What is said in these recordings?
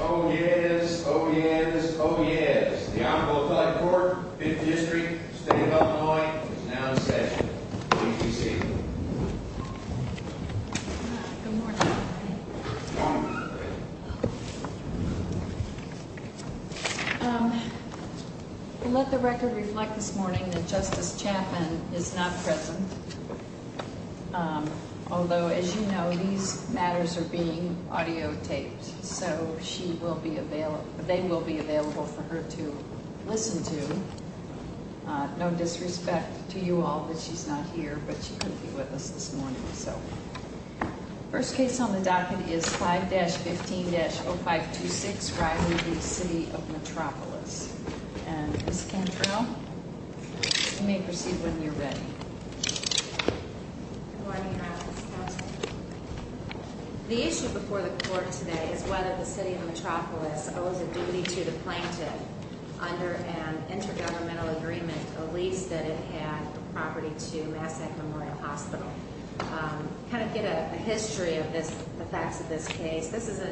Oh, yes. Oh, yes. Oh, yes. The Honorable Court District State of Illinois is now in session. Good morning. Um, let the record reflect this morning that Justice Chapman is not present. Um, although, as you know, these matters are being audio taped, so she will be available. They will be available for her to listen to. No disrespect to you all, but she's not here, but she couldn't be with us this morning. So first case on the docket is 5-15-0526 right in the city of Metropolis. And this can trail may proceed when you're ready. Good morning. The issue before the court today is whether the city of Metropolis owes a duty to the plaintiff under an intergovernmental agreement, a lease that it had property to Massac Memorial Hospital. Um, kind of get a history of this. The facts of this case. This is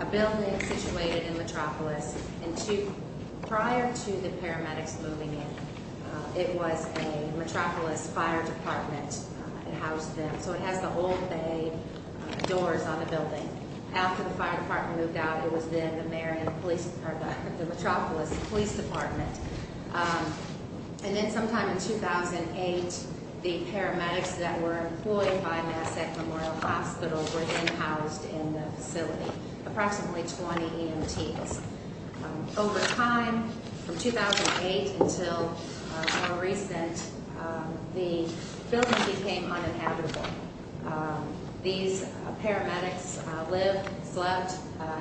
a building situated in Metropolis and two prior to the paramedics moving in. It was a house. So it has the old Bay doors on the building. After the fire department moved out, it was then the mayor and police are the Metropolis Police Department. And then sometime in 2000 and eight, the paramedics that were employed by Massac Memorial Hospital were housed in the facility. Approximately 20 teams. Over time, from 2008 until recent, the building became uninhabitable. These paramedics live, slept,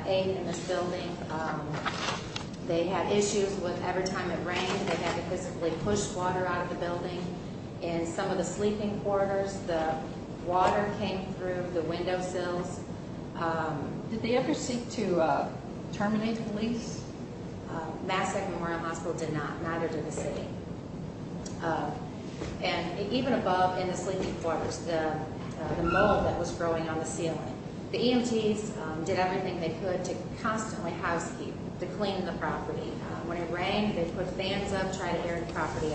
ate in this building. They had issues with every time it rained. They had to physically push water out of the building and some of the sleeping quarters. The water came through the window sills. Um, did they ever seek to terminate police? Massac Memorial Hospital did not. Neither did the city. And even above in the sleeping quarters, the mold that was growing on the ceiling. The EMTs did everything they could to constantly housekeeping to clean the property. When it rained, they put fans up, tried to air the property.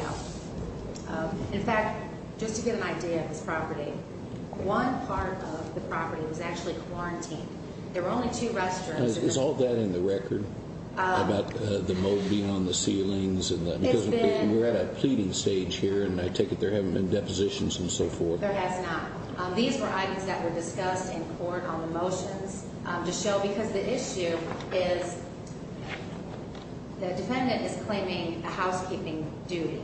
One part of the property was actually quarantined. There were only two restaurants. It's all that in the record about the movie on the ceilings and we're at a pleading stage here, and I take it there haven't been depositions and so forth. These were items that were discussed in court on the motions to show because the issue is the defendant is claiming housekeeping duty.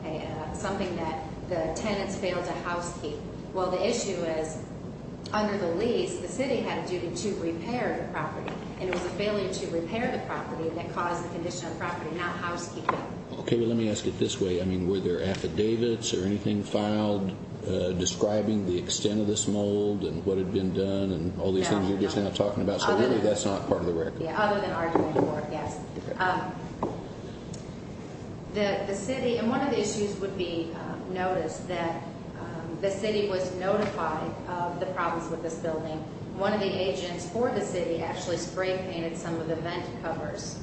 Okay, something that the tenants failed to housekeep. Well, the issue is under the lease, the city had a duty to repair the property, and it was a failure to repair the property that caused the condition of property, not housekeeping. Okay, well, let me ask it this way. I mean, were there affidavits or anything filed describing the extent of this mold and what had been done and all these things you're just not talking about. So really, that's not part of the record. Other than arguing for gas, the city and one of the issues would be noticed that the city was notified of the problems with this building. One of the agents for the city actually spray painted some of the vent covers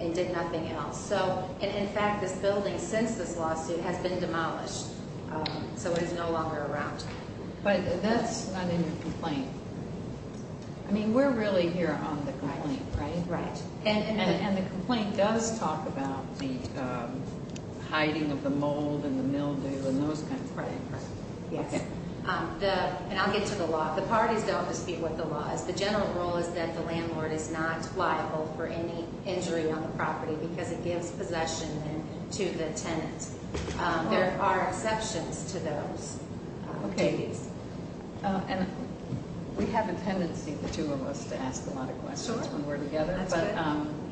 and did nothing else. So in fact, this building, since this lawsuit has been demolished, so it is no longer around. But that's not in the complaint. I mean, we're really here on the complaint, right? Right. And the complaint does talk about the hiding of the mold and the mildew and those kinds of things. Right, right. Yes. And I'll get to the law. The parties don't dispute what the law is. The general rule is that the landlord is not liable for any injury on the property because it gives possession to the tenant. There are exceptions to those. Okay. And we have a tendency, the two of us, to ask a lot of questions when we're together. But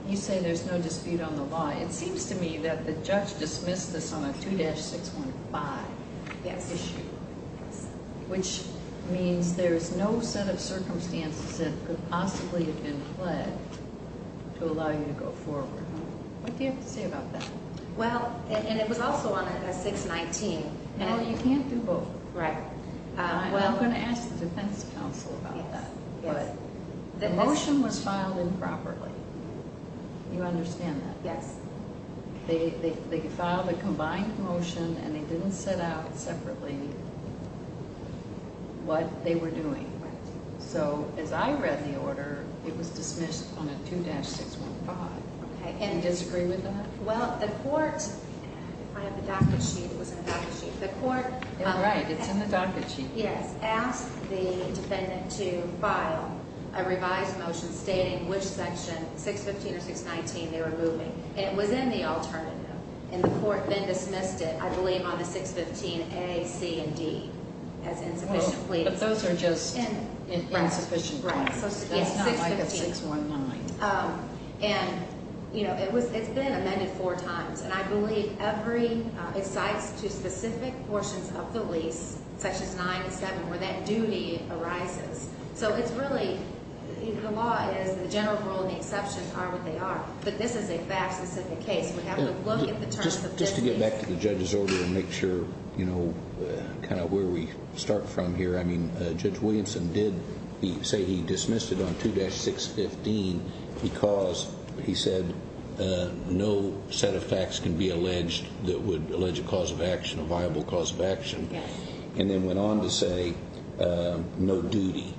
you say there's no dispute on the law. It seems to me that the judge dismissed this on a 2-615 issue, which means there's no set of circumstances that could possibly have been fled to allow you to go forward. What do you have to say about that? Well, and it was also on a 6-19. Well, you can't do both. Right. I'm going to ask the defense counsel about that. The motion was filed improperly. You understand that? Yes. They filed a combined motion, and they didn't set out separately what they were doing. So as I read the order, it was dismissed on a 2-615. Okay. And you disagree with that? Well, the court, if I have the docket sheet, it was in the docket sheet. You're right. It's in the docket sheet. Yes. Asked the defendant to file a revised motion stating which section, 6-15 or 6-19, they were moving. And it was in the alternative. And the court then dismissed it, I believe, on the 6-15 A, C, and D, as insufficient pleading. But those are just insufficient pleading. It's not like a 6-19. And, you know, it's been amended four times. And I believe every, it cites two specific portions of the lease, sections 9 and 7, where that duty arises. So it's really, the law is the general rule and the exceptions are what they are. But this is a fact-specific case. We have to look at the terms of this lease. Just to get back to the judge's order and make sure, you know, kind of where we start from here. I mean, Judge Williamson did say he dismissed it on 2-615 because he said no set of facts can be alleged that would allege a cause of action, a viable cause of action. And then went on to say no duty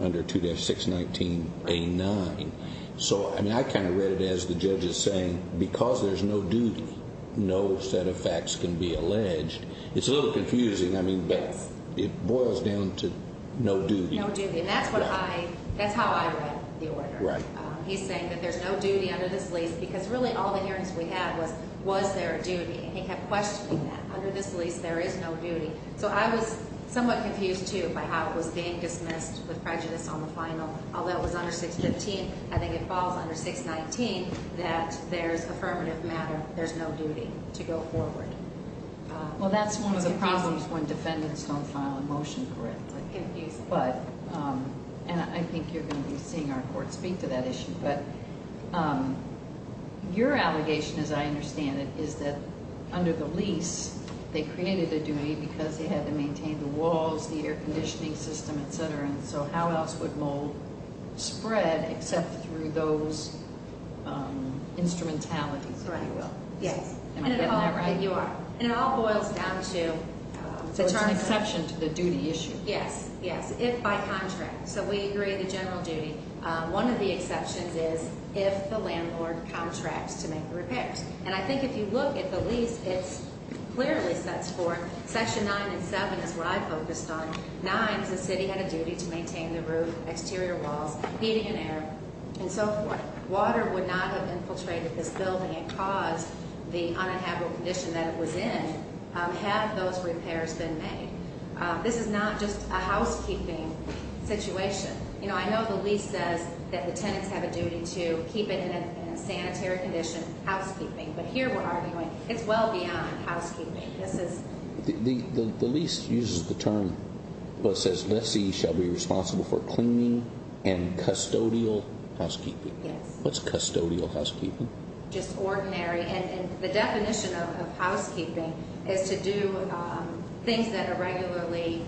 under 2-619 A-9. So, I mean, I kind of read it as the judge is saying, because there's no duty, no set of facts can be alleged. It's a little confusing. I mean, but it boils down to no duty. No duty. And that's what I, that's how I read the order. Right. He's saying that there's no duty under this lease, because really all the hearings we had was, was there a duty? And he kept questioning that. Under this lease, there is no duty. So I was somewhat confused, too, by how it was being dismissed with prejudice on the final. Although it was under 6-15, I think it was. There's no duty to go forward. Well, that's one of the problems when defendants don't file a motion for it. But, um, and I think you're going to be seeing our court speak to that issue. But, um, your allegation, as I understand it, is that under the lease, they created a duty because they had to maintain the walls, the air conditioning system, etcetera. And so how else would you will? Yes, you are. And it all boils down to, um, it's an exception to the duty issue. Yes. Yes. If by contract. So we agree the general duty. One of the exceptions is if the landlord contracts to make the repairs. And I think if you look at the lease, it's clearly sets for Section nine and seven is what I focused on. Nines. The city had a duty to maintain the roof, exterior walls, heating and air and so forth. Water would not have infiltrated this building and caused the uninhabitable condition that it was in. Um, have those repairs been made? This is not just a housekeeping situation. You know, I know the lease says that the tenants have a duty to keep it in a sanitary condition housekeeping. But here we're arguing it's well beyond housekeeping. This is the least uses the term, but says Messi shall be responsible for cleaning and custodial housekeeping. What's custodial housekeeping? Just ordinary. And the definition of housekeeping is to do things that are regularly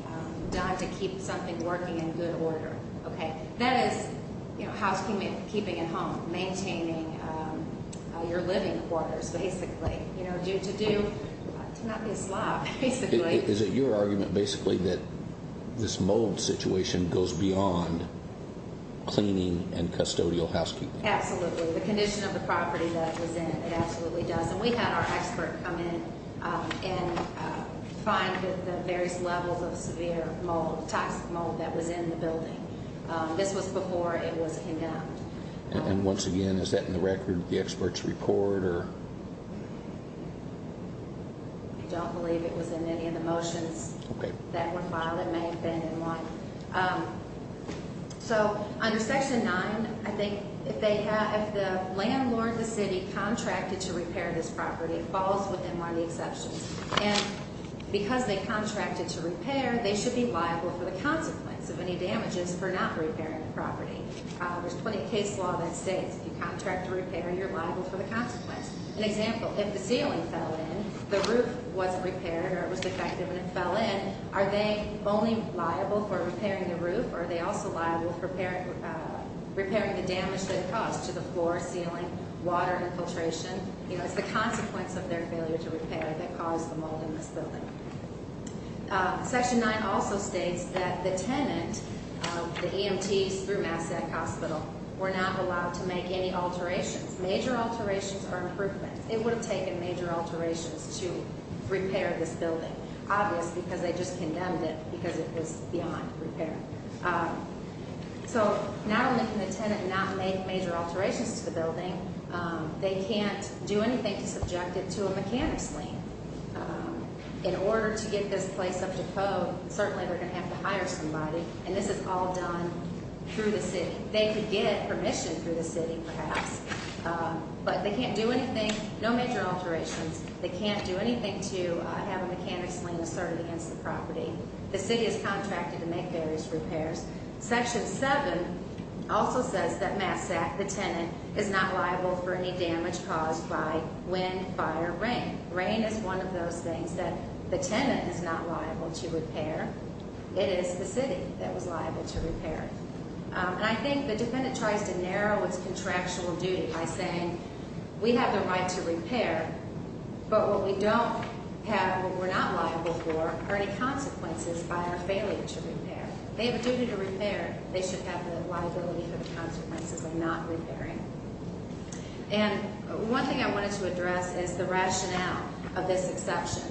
done to keep something working in good order. Okay, that is housekeeping, keeping at home, maintaining your living quarters. Basically, you know, due to do not be a slob. Basically, is it your argument basically that this mold situation goes beyond cleaning and custodial housekeeping? Absolutely. The condition of the property that was in it absolutely does. And we had our expert come in and find the various levels of severe mold, toxic mold that was in the building. This was before it was condemned. And once again, is that in the record? The experts report or I don't believe it was in any of the motions that were filed. It may have been in one. Um, so under section nine, I think if they have the landlord, the city contracted to repair this property falls within one of the exceptions and because they contracted to repair, they should be liable for the consequence of any damages for not repairing the property. There's 20 case law that states if you contract to repair, you're liable for the example, if the ceiling fell in, the roof was repaired or it was defective and it fell in. Are they only liable for repairing the roof? Are they also liable for repairing, repairing the damage that caused to the floor, ceiling, water infiltration? You know, it's the consequence of their failure to repair that caused the mold in this building. Uh, section nine also states that the tenant, the E. M. T. S. Through Mass alterations or improvements, it would have taken major alterations to repair this building, obviously because they just condemned it because it was beyond repair. Um, so not only can the tenant not make major alterations to the building, um, they can't do anything to subject it to a mechanic's lien. Um, in order to get this place up to code, certainly we're gonna have to hire somebody and this is all done through the city. They could get permission through the city, perhaps. Um, but they can't do anything. No major alterations. They can't do anything to have a mechanic's lien asserted against the property. The city is contracted to make various repairs. Section seven also says that Massac, the tenant, is not liable for any damage caused by wind, fire, rain. Rain is one of those things that the tenant is not liable to repair. It is the city that was liable to repair. I think the defendant tries to narrow its contractual duty by saying we have the right to repair, but what we don't have, what we're not liable for are any consequences by our failure to repair. They have a duty to repair. They should have the liability for the consequences of not repairing. And one thing I wanted to address is the rationale of this exception.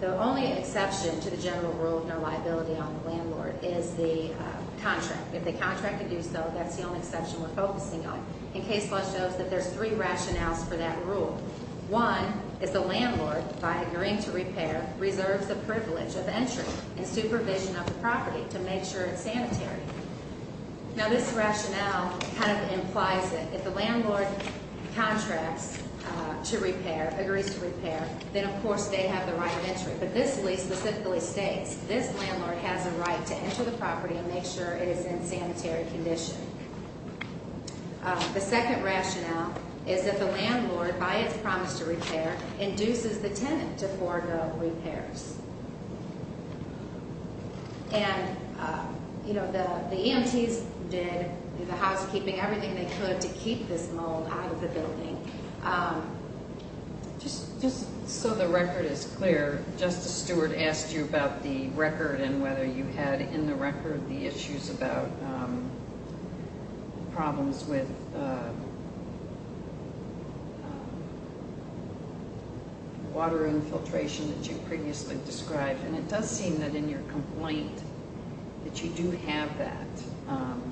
The only exception to the general rule of no liability on the landlord is the contract. If the contract to do so, that's the only section we're focusing on. In case law shows that there's three rationales for that rule. One is the landlord, by agreeing to repair, reserves the privilege of entry and supervision of the property to make sure it's sanitary. Now, this rationale kind of implies that if the landlord contracts to repair, then of course they have the right of entry. But this specifically states this landlord has a right to enter the property and make sure it is in sanitary condition. The second rationale is that the landlord, by its promise to repair, induces the tenant to forego repairs. And, you know, the EMTs did the housekeeping, everything they could to keep this mold out of the building. Um, just just so the record is clear, Justice Stewart asked you about the record and whether you had in the record the issues about problems with water infiltration that you previously described. And it does seem that in your complaint that you do have that, um,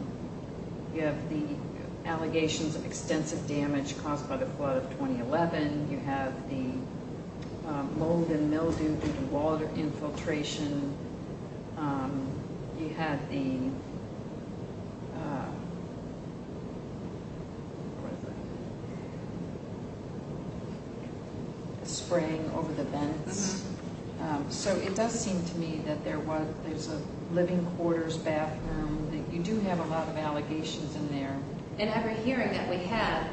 you have the allegations of extensive damage caused by the flood of 2011. You have the mold and mildew due to water infiltration. Um, you had the spraying over the vents. So it does seem to me that there was there's a living quarters, bathroom. You do have a lot of allegations in there. And every hearing that we have,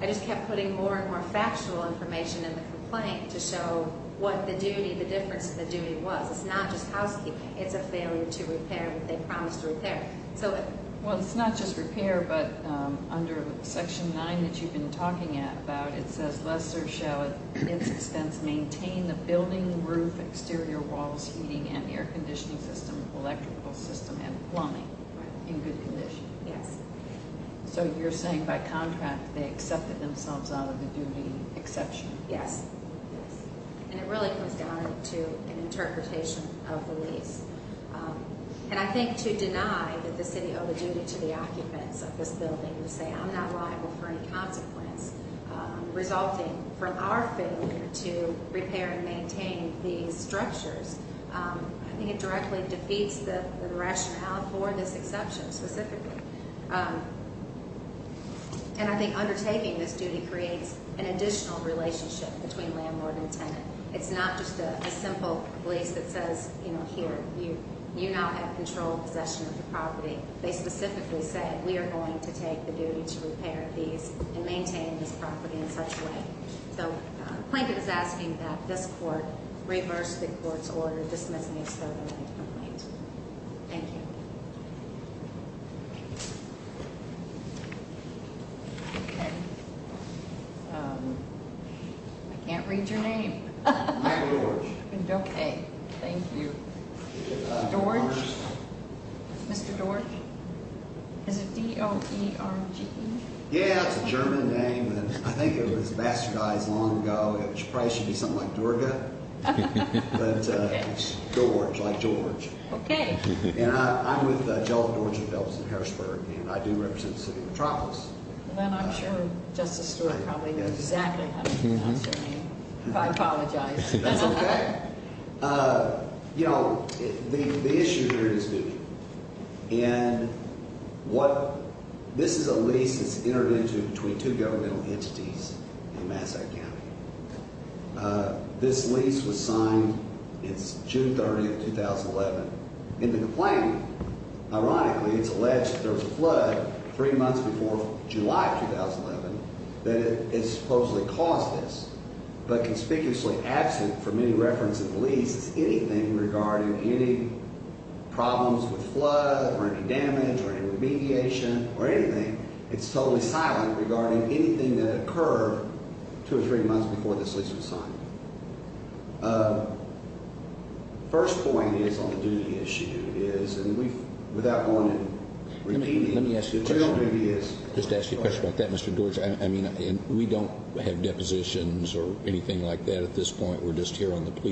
I just kept putting more and more factual information in the complaint to show what the duty, the difference in the duty was. It's not just housekeeping. It's a failure to repair what they promised to repair. So well, it's not just repair, but under Section nine that you've been talking about, it says, Lester shall, at its expense, maintain the building roof, exterior walls, heating and air conditioning system, electrical system and plumbing in good condition. Yes. So you're saying by contract they accepted themselves out of the duty exception? Yes. And it really comes down to an interpretation of the lease. Um, and I think to deny that the city of the duty to the occupants of this building to say, I'm not liable for any consequence resulting from our failure to repair and maintain these structures, I think it directly defeats the rationale for this exception specifically. Um, and I think undertaking this duty creates an additional relationship between landlord and tenant. It's not just a simple place that says, you know, here you, you're not have control possession of the property. They specifically said we're going to take the duty to repair these and maintain this property in such way. So Plankett is asking that this court reverse the court's order dismissing its third amendment complaint. Thank you. I can't read your name. Okay. Thank you. George. Mr. George. Is it d o e r g? Yeah, it's a German name. I think it was bastardized long ago. It should probably should be something like Durga, but it's George, like George. Okay. And I'm with Jellic, Georgia, Phelps and Harrisburg, and I do represent the city of Metropolis. Then I'm sure Justice Stewart probably knows exactly how to pronounce your name. If I apologize. That's okay. Uh, you know, the issue here is duty. And what? This is a lease. It's intervention between two governmental entities in Massachusetts. Uh, this lease was signed. It's June 30, 2011 in the complaint. Ironically, it's alleged there was a flood three months before July 2011 that is supposedly caused this, but conspicuously absent from any reference of the lease is anything regarding any problems with flood or damage or remediation or anything. It's totally silent regarding anything that occurred two or three months before this lease was signed. Uh, first point is on the duty issue is, and we without going into remediation, let me ask you a question. Just ask you a question like that, Mr. George. I mean, we don't have depositions or anything like that. At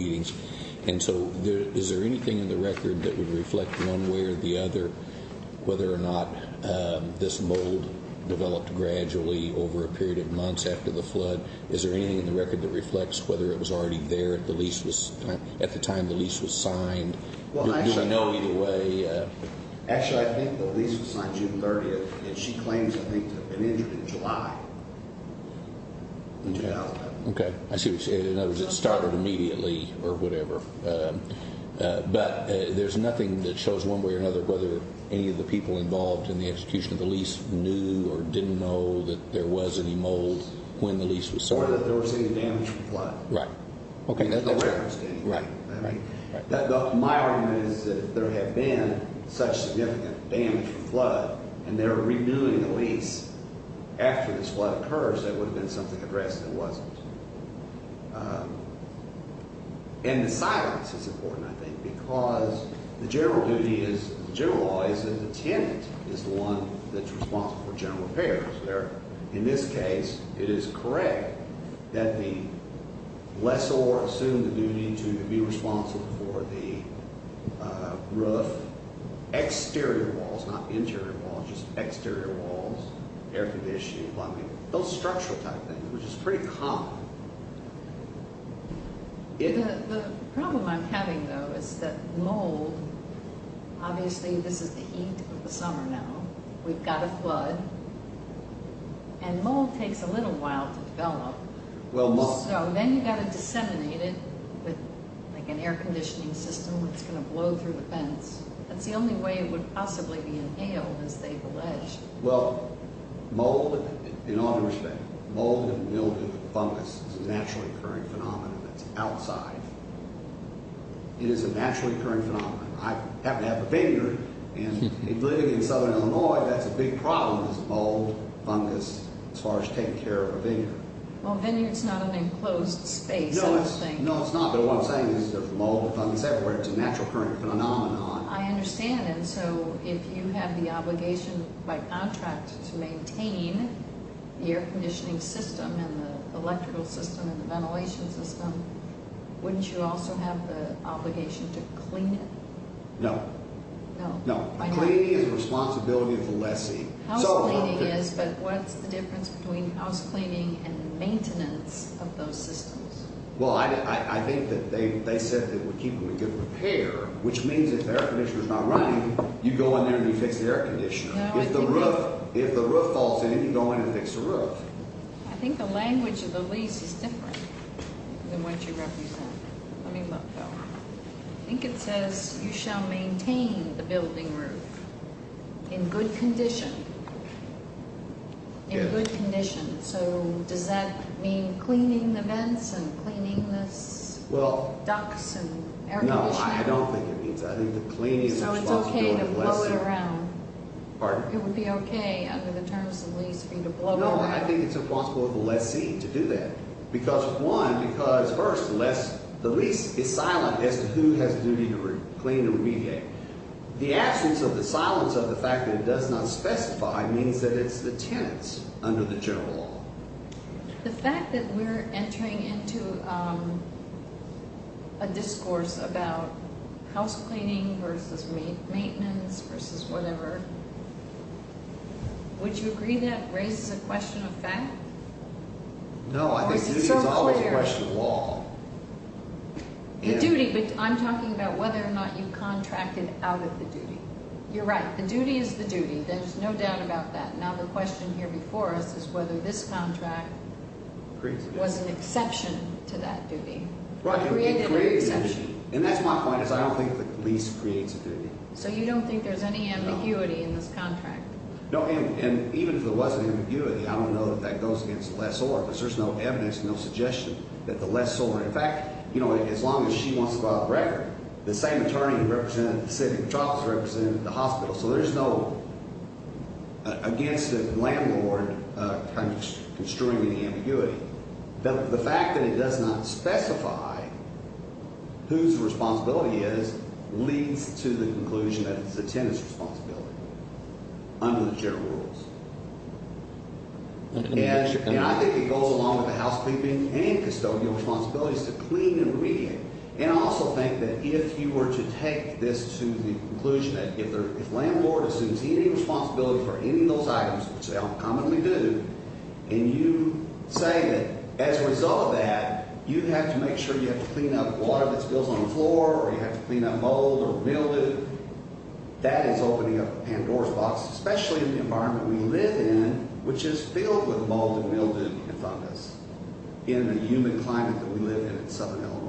And so is there anything in the record that would reflect one way or the other, whether or not this mold developed gradually over a period of months after the flood? Is there anything in the record that reflects whether it was already there at the lease was at the time the lease was signed? Well, I don't know either way. Actually, I think the lease was signed June 30th and she claims I think an injury in July. Yeah. Okay. I see. In other words, it started immediately or whatever. But there's nothing that shows one way or another whether any of the people involved in the execution of the lease knew or didn't know that there was any mold when the lease was so that there was any damage. Right. Okay. That's the way I understand. Right. Right. My arm is that there have been such damage flood and they're renewing the lease after this flood occurs. That would have been something addressed. It wasn't in the silence. It's important, I think, because the general duty is generalized, and the tenant is the one that's responsible for general repairs there. In this case, it is correct that the less or assume the duty to be responsible for the roof exterior walls, not interior walls, just exterior walls, air conditioning, plumbing, those structural type things, which is pretty common. The problem I'm having, though, is that mold. Obviously, this is the heat of the summer. Now we've got a flood and mold takes a little while to develop. Well, then you got to disseminate it with an air conditioning system. It's gonna blow through the fence. That's the only way it would possibly be inhaled, as they've alleged. Well, mold in all respects, mold and mildew fungus is a naturally occurring phenomenon that's outside. It is a naturally occurring phenomenon. I happen to have a vineyard, and living in southern Illinois, that's a big problem is mold, fungus as far as taking care of a vineyard. Well, vineyard's not an enclosed space. No, it's not, but what I'm saying is there's mold, fungus everywhere. It's a naturally occurring phenomenon. I understand, and so if you have the obligation by contract to maintain the air conditioning system, and the electrical system, and the ventilation system, wouldn't you also have the obligation to clean it? No. No. A cleaning is a responsibility of the lessee. Housecleaning is, but what's the difference between housecleaning and maintenance of those systems? Well, I think that they said that it would keep them in good repair, which means if the air conditioner's not running, you go in there and you fix the air conditioner. If the roof falls in, you go in and fix the roof. I think the language of the lease is different than what you represent. Let me look, Phil. I think it says, you shall maintain the building roof in good condition. In good condition. So does that mean cleaning the vents and cleaning the ducts and air conditioning? No, I don't think it means that. I think the cleaning is a responsibility of the lessee. So it's okay to blow it around? Pardon? It would be okay under the terms of the lease for you to blow it around? No, I think it's a responsibility of the lessee to do that. Because one, because first, the lease is silent as to who has the duty to clean and unspecified means that it's the tenants under the general law. The fact that we're entering into a discourse about housecleaning versus maintenance versus whatever, would you agree that raises a question of fact? No, I think the duty is always a question of law. The duty, but I'm talking about whether or not you contracted out of the duty. You're right. The duty is the duty. There's no doubt about that. Now, the question here before us is whether this contract was an exception to that duty. And that's my point is I don't think the lease creates a duty. So you don't think there's any ambiguity in this contract? No, and even if there wasn't ambiguity, I don't know that that goes against the lessor. But there's no evidence, no suggestion that the lessor, in fact, you know, as long as she wants to file a record, the same attorney who represented the city of Charlottesville represented the hospital. So there's no against the landlord kind of construing any ambiguity. The fact that it does not specify whose responsibility is leads to the conclusion that it's the tenant's responsibility under the general rules. And I think it goes along with the housekeeping and custodial responsibilities to clean and read. And I also think that if you were to take this to the conclusion that if the landlord assumes any responsibility for any of those items, which they don't commonly do, and you say that as a result of that, you have to make sure you have to clean up water that spills on the floor or you have to clean up mold or mildew, that is opening up Pandora's box, especially in the environment we live in, which is filled with mold and mildew and fungus in the human climate that we live in in southern Illinois.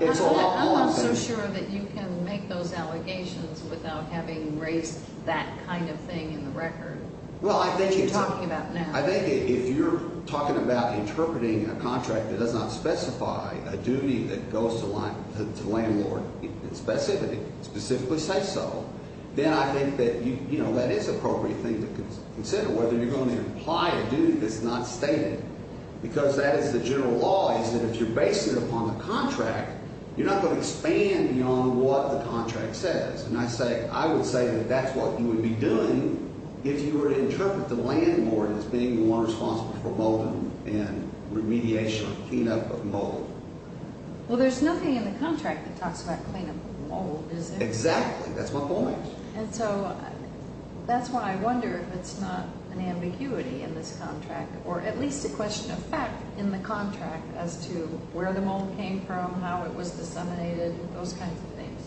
It's a lot more than that. I'm not so sure that you can make those allegations without having raised that kind of thing in the record that you're talking about now. I think if you're talking about interpreting a contract that does not specify a duty that goes to the landlord in specificity, specifically say so, then I think that, you know, that is an appropriate thing to consider, whether you're going to imply a duty that's not stated. Because that is the general law, is that if you're basing it upon the contract, you're not going to expand beyond what the contract says. And I say, I would say that that's what you would be doing if you were to interpret the landlord as being the one responsible for mold and remediation or cleanup of mold. Well, there's nothing in the contract that talks about cleanup of mold, is there? Exactly. That's my point. And so, that's why I wonder if it's not an ambiguity in this contract, or at least a question of fact in the contract as to where the mold came from, how it was disseminated, those kinds of things.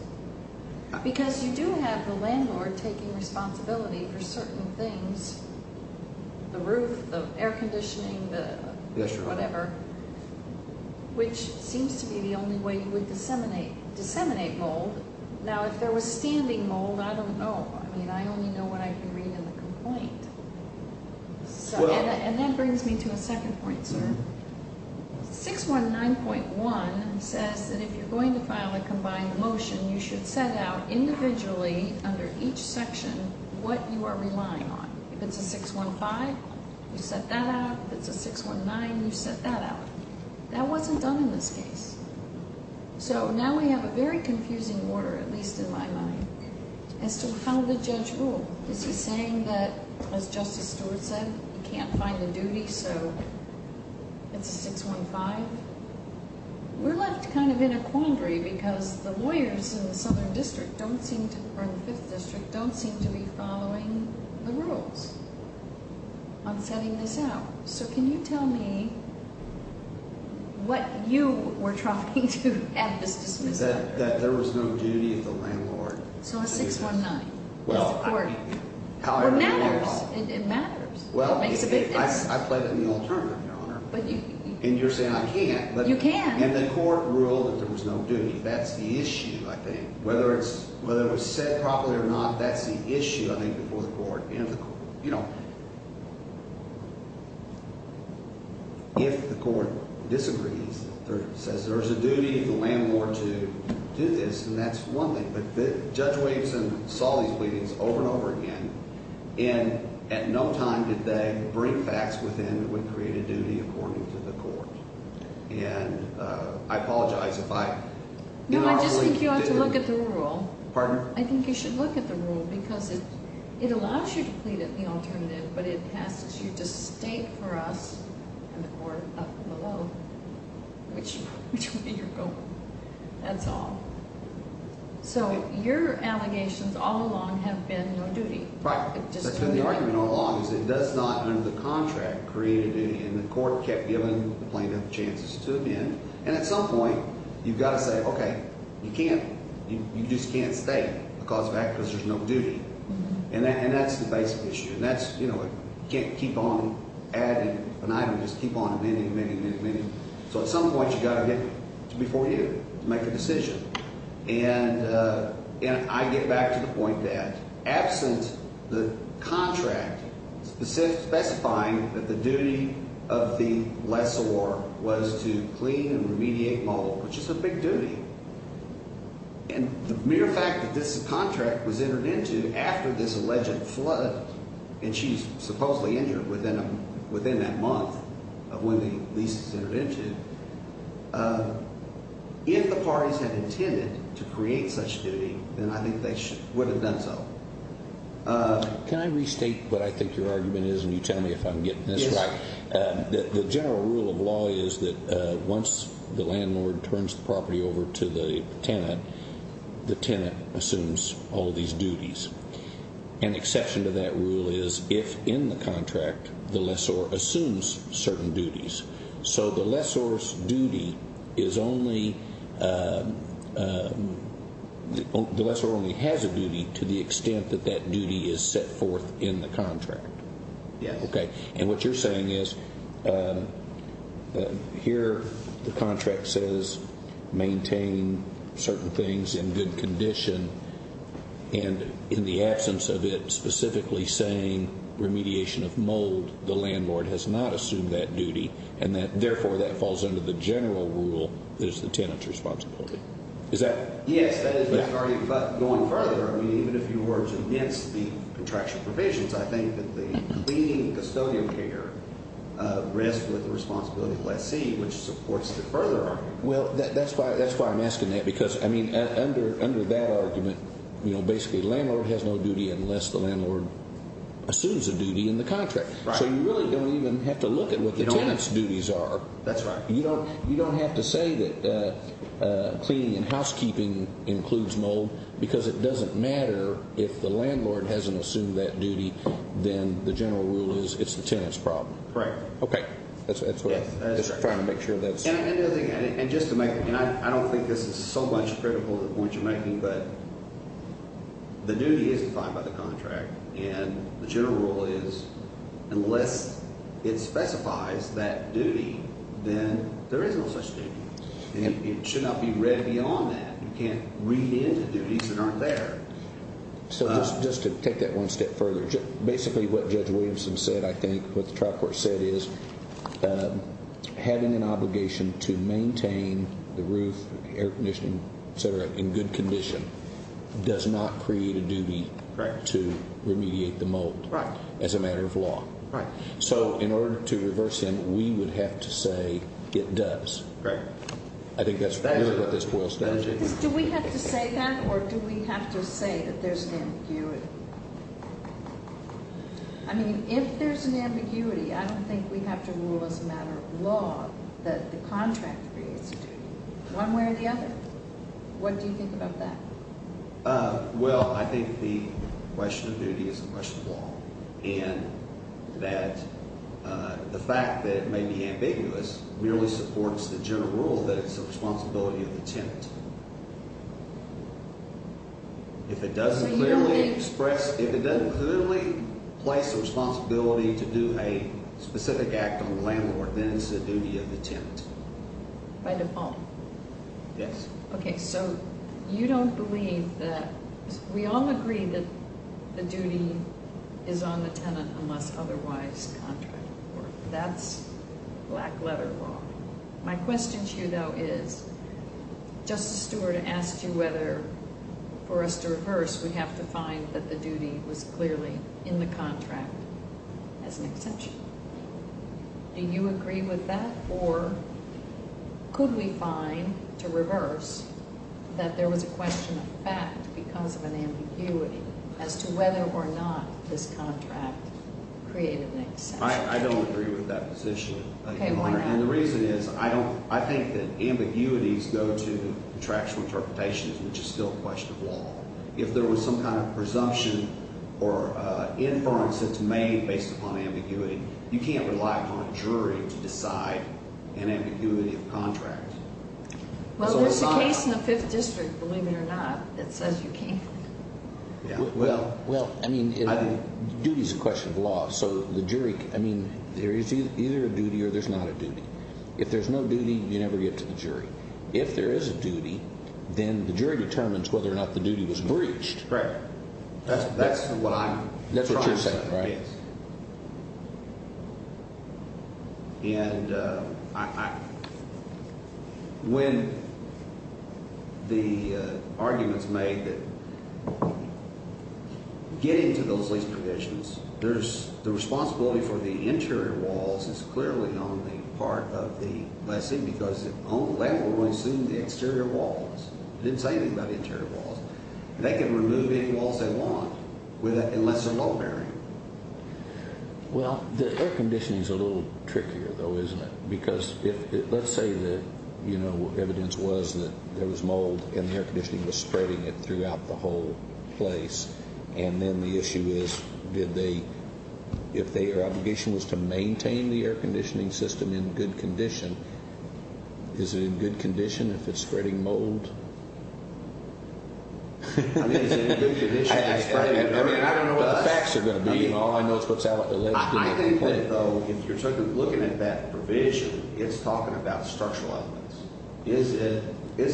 Because you do have the landlord taking responsibility for certain things, the roof, the air conditioning, the whatever, which seems to be the only way you would disseminate mold. Now, if there was standing mold, I don't know. I mean, I only know what I can read in the complaint. And that brings me to a second point, sir. 619.1 says that if you're going to file a combined motion, you should set out individually, under each section, what you are relying on. If it's a 615, you set that out. If it's a 619, you set that out. That wasn't done in this case. So, now we have a very confusing order, at least in my mind, as to how the judge ruled. Is he saying that, as Justice Stewart said, you can't find the duty, so it's a 615? We're left kind of in a quandary because the lawyers in the Southern District don't seem to, or the Fifth District, don't seem to be following the rules on setting this out. So, can you tell me what you were trying to add to this dismissal order? That there was no duty of the landlord. So, a 619 is the court. Well, however you want. It matters. It makes a big difference. I played it in the old term, Your Honor. And you're saying I can't. You can. And the court ruled that there was no duty. That's the issue, I think. You know, if the court disagrees, says there's a duty of the landlord to do this, then that's one thing. But Judge Waveson saw these pleadings over and over again, and at no time did they bring facts within that would create a duty according to the court. And I apologize if I... No, I just think you ought to look at the rule. Pardon? I think you should look at the rule because it allows you to plead at the alternative, but it asks you to state for us and the court up and below which way you're going. That's all. So, your allegations all along have been no duty. Right. That's been the argument all along. It does not under the contract create a duty, and the court kept giving the plaintiff chances to him. And at some point, you've got to say, okay, you can't, you just can't state a cause of act because there's no duty. And that's the basic issue. And that's, you know, you can't keep on adding an item. Just keep on amending, amending, amending, amending. So at some point, you've got to get before you to make a decision. And I get back to the point that absent the contract specifying that the duty of the lessor was to clean and remediate mold, which is a big duty. And the mere fact that this contract was entered into after this alleged flood, and she's supposedly injured within that month of when the lease was entered into. If the parties had intended to create such duty, then I think they would have done so. Can I restate what I think your argument is, and you tell me if I'm getting this right? Yes. The general rule of law is that once the landlord turns the property over to the tenant, the tenant assumes all these duties. An exception to that rule is if in the contract, the lessor assumes certain duties. So the lessor's duty is only, the lessor only has a duty to the extent that that duty is set forth in the contract. Yes. Okay. And what you're saying is here the contract says maintain certain things in good condition. And in the absence of it specifically saying remediation of mold, the landlord has not assumed that duty. And therefore, that falls under the general rule that it's the tenant's responsibility. Is that? Yes. That is my argument. But going further, even if you were against the contraction provisions, I think that the cleaning custodian care rests with the responsibility of the lessee, which supports the further argument. Well, that's why I'm asking that, because under that argument, basically the landlord has no duty unless the landlord assumes a duty in the contract. Right. So you really don't even have to look at what the tenant's duties are. That's right. You don't have to say that cleaning and housekeeping includes mold because it doesn't matter if the landlord hasn't assumed that duty, then the general rule is it's the tenant's problem. Correct. Okay. That's what I'm trying to make sure of that. And just to make, and I don't think this is so much critical of the point you're making, but the duty is defined by the contract. And the general rule is unless it specifies that duty, then there is no such duty. And it should not be read beyond that. You can't read into duties that aren't there. So just to take that one step further, basically what Judge Williamson said, I think, what the trial court said is having an obligation to maintain the roof, air conditioning, et cetera, in good condition does not create a duty to remediate the mold as a matter of law. Right. So in order to reverse him, we would have to say it does. Right. I think that's really what this boils down to. Do we have to say that or do we have to say that there's an ambiguity? I mean, if there's an ambiguity, I don't think we have to rule as a matter of law that the contract creates a duty one way or the other. What do you think about that? Well, I think the question of duty is a question of law. And that the fact that it may be ambiguous merely supports the general rule that it's the responsibility of the tenant. If it doesn't clearly express, if it doesn't clearly place the responsibility to do a specific act on the landlord, then it's the duty of the tenant. By default. Yes. Okay, so you don't believe that, we all agree that the duty is on the tenant unless otherwise contracted for. That's black letter law. My question to you though is, Justice Stewart asked you whether for us to reverse, we have to find that the duty was clearly in the contract as an exemption. Do you agree with that? Or could we find to reverse that there was a question of fact because of an ambiguity as to whether or not this contract created an exemption? I don't agree with that position. Okay, why not? And the reason is I don't, I think that ambiguities go to contractual interpretations, which is still a question of law. If there was some kind of presumption or inference that's made based upon ambiguity, you can't rely on a jury to decide an ambiguity of contract. Well, there's a case in the Fifth District, believe it or not, that says you can't. Well, I mean, duty is a question of law. So the jury, I mean, there is either a duty or there's not a duty. If there's no duty, you never get to the jury. If there is a duty, then the jury determines whether or not the duty was breached. Right. That's what I'm trying to say. That's what you're saying, right? Yes. And I, when the argument's made that getting to those lease provisions, there's, the responsibility for the interior walls is clearly on the part of the lessee because they were going to sue the exterior walls. They didn't say anything about the interior walls. They can remove any walls they want unless they're law bearing. Well, the air conditioning's a little trickier, though, isn't it? Because if, let's say that, you know, evidence was that there was mold and the air conditioning was spreading it throughout the whole place. And then the issue is, did they, if their obligation was to maintain the air conditioning system in good condition, is it in good condition if it's spreading mold? I mean, is it in good condition if it's spreading mold? I mean, I don't know what the facts are going to be. All I know is what's out there. I think that, though, if you're looking at that provision, it's talking about structural elements. Is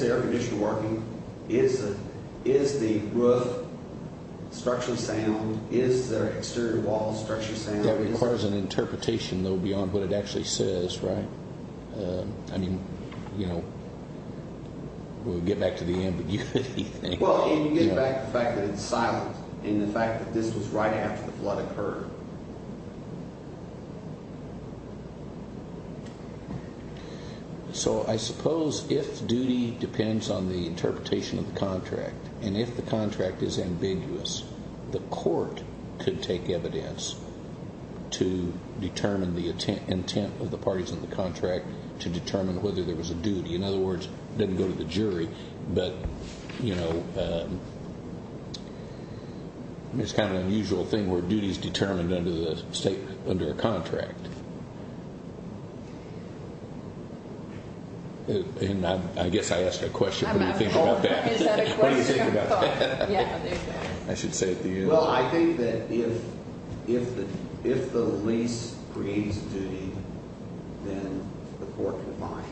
the air conditioning working? Is the roof structurally sound? Is the exterior walls structurally sound? That requires an interpretation, though, beyond what it actually says, right? I mean, you know, we'll get back to the ambiguity thing. Well, and you get back to the fact that it's silent and the fact that this was right after the flood occurred. So I suppose if duty depends on the interpretation of the contract, and if the contract is ambiguous, the court could take evidence to determine the intent of the parties in the contract to determine whether there was a duty. In other words, it doesn't go to the jury. But, you know, it's kind of an unusual thing where duty is determined under a contract. And I guess I asked a question. What do you think about that? What is that a question? What do you think about that? Yeah, there you go. I should say at the end. Well, I think that if the lease creates a duty, then the court can find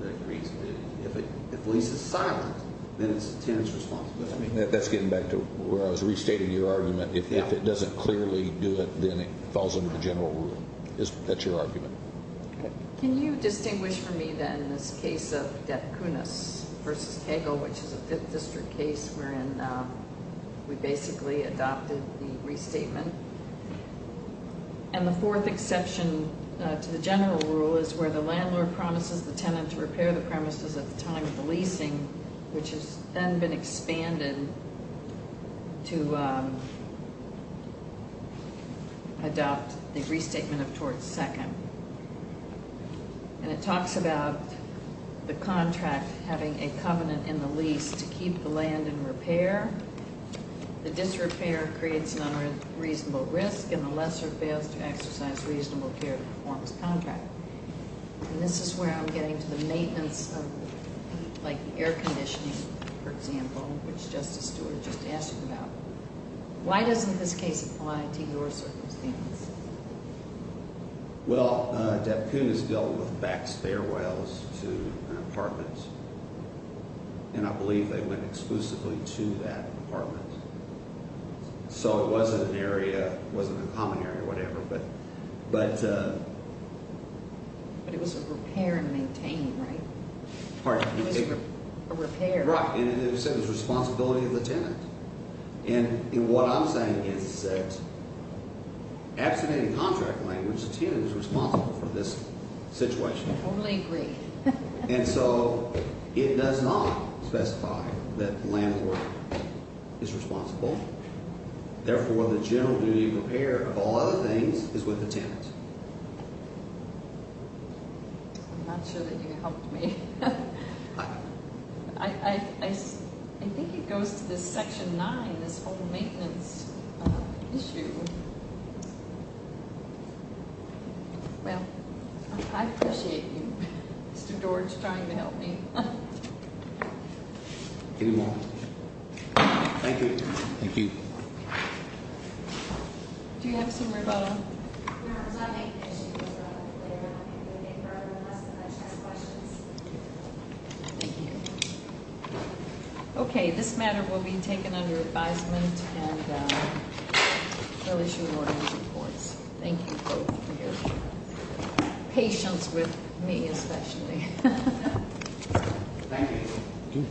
that it creates a duty. If the lease is silent, then it's the tenant's responsibility. That's getting back to where I was restating your argument. If it doesn't clearly do it, then it falls under the general rule. That's your argument. Can you distinguish for me, then, this case of Depkunas v. Cagle, which is a 5th District case wherein we basically adopted the restatement? And the fourth exception to the general rule is where the landlord promises the tenant to repair the premises at the time of the leasing, which has then been expanded to adopt the restatement of torts second. And it talks about the contract having a covenant in the lease to keep the land in repair. The disrepair creates an unreasonable risk, and the lesser fails to exercise reasonable care to perform this contract. And this is where I'm getting to the maintenance of, like, the air conditioning, for example, which Justice Stewart just asked about. Why doesn't this case apply to your circumstance? Well, Depkunas dealt with back stairwells to an apartment. And I believe they went exclusively to that apartment. So it wasn't an area, it wasn't a common area or whatever. But it was a repair and maintain, right? Pardon? It was a repair. Right. And it said it was the responsibility of the tenant. And what I'm saying is that abstaining contract language, the tenant is responsible for this situation. I totally agree. And so it does not specify that the landlord is responsible. Therefore, the general duty of repair of all other things is with the tenant. I'm not sure that you helped me. I think it goes to this Section 9, this whole maintenance issue. Well, I appreciate you, Mr. George, trying to help me. Any more? Thank you. Thank you. Do you have some rebuttal? No, I was not making any issues. I'm going to get to the next question. Thank you. Okay, this matter will be taken under advisement and we'll issue an order in due course. Thank you both for your patience with me especially. Thank you. Thank you.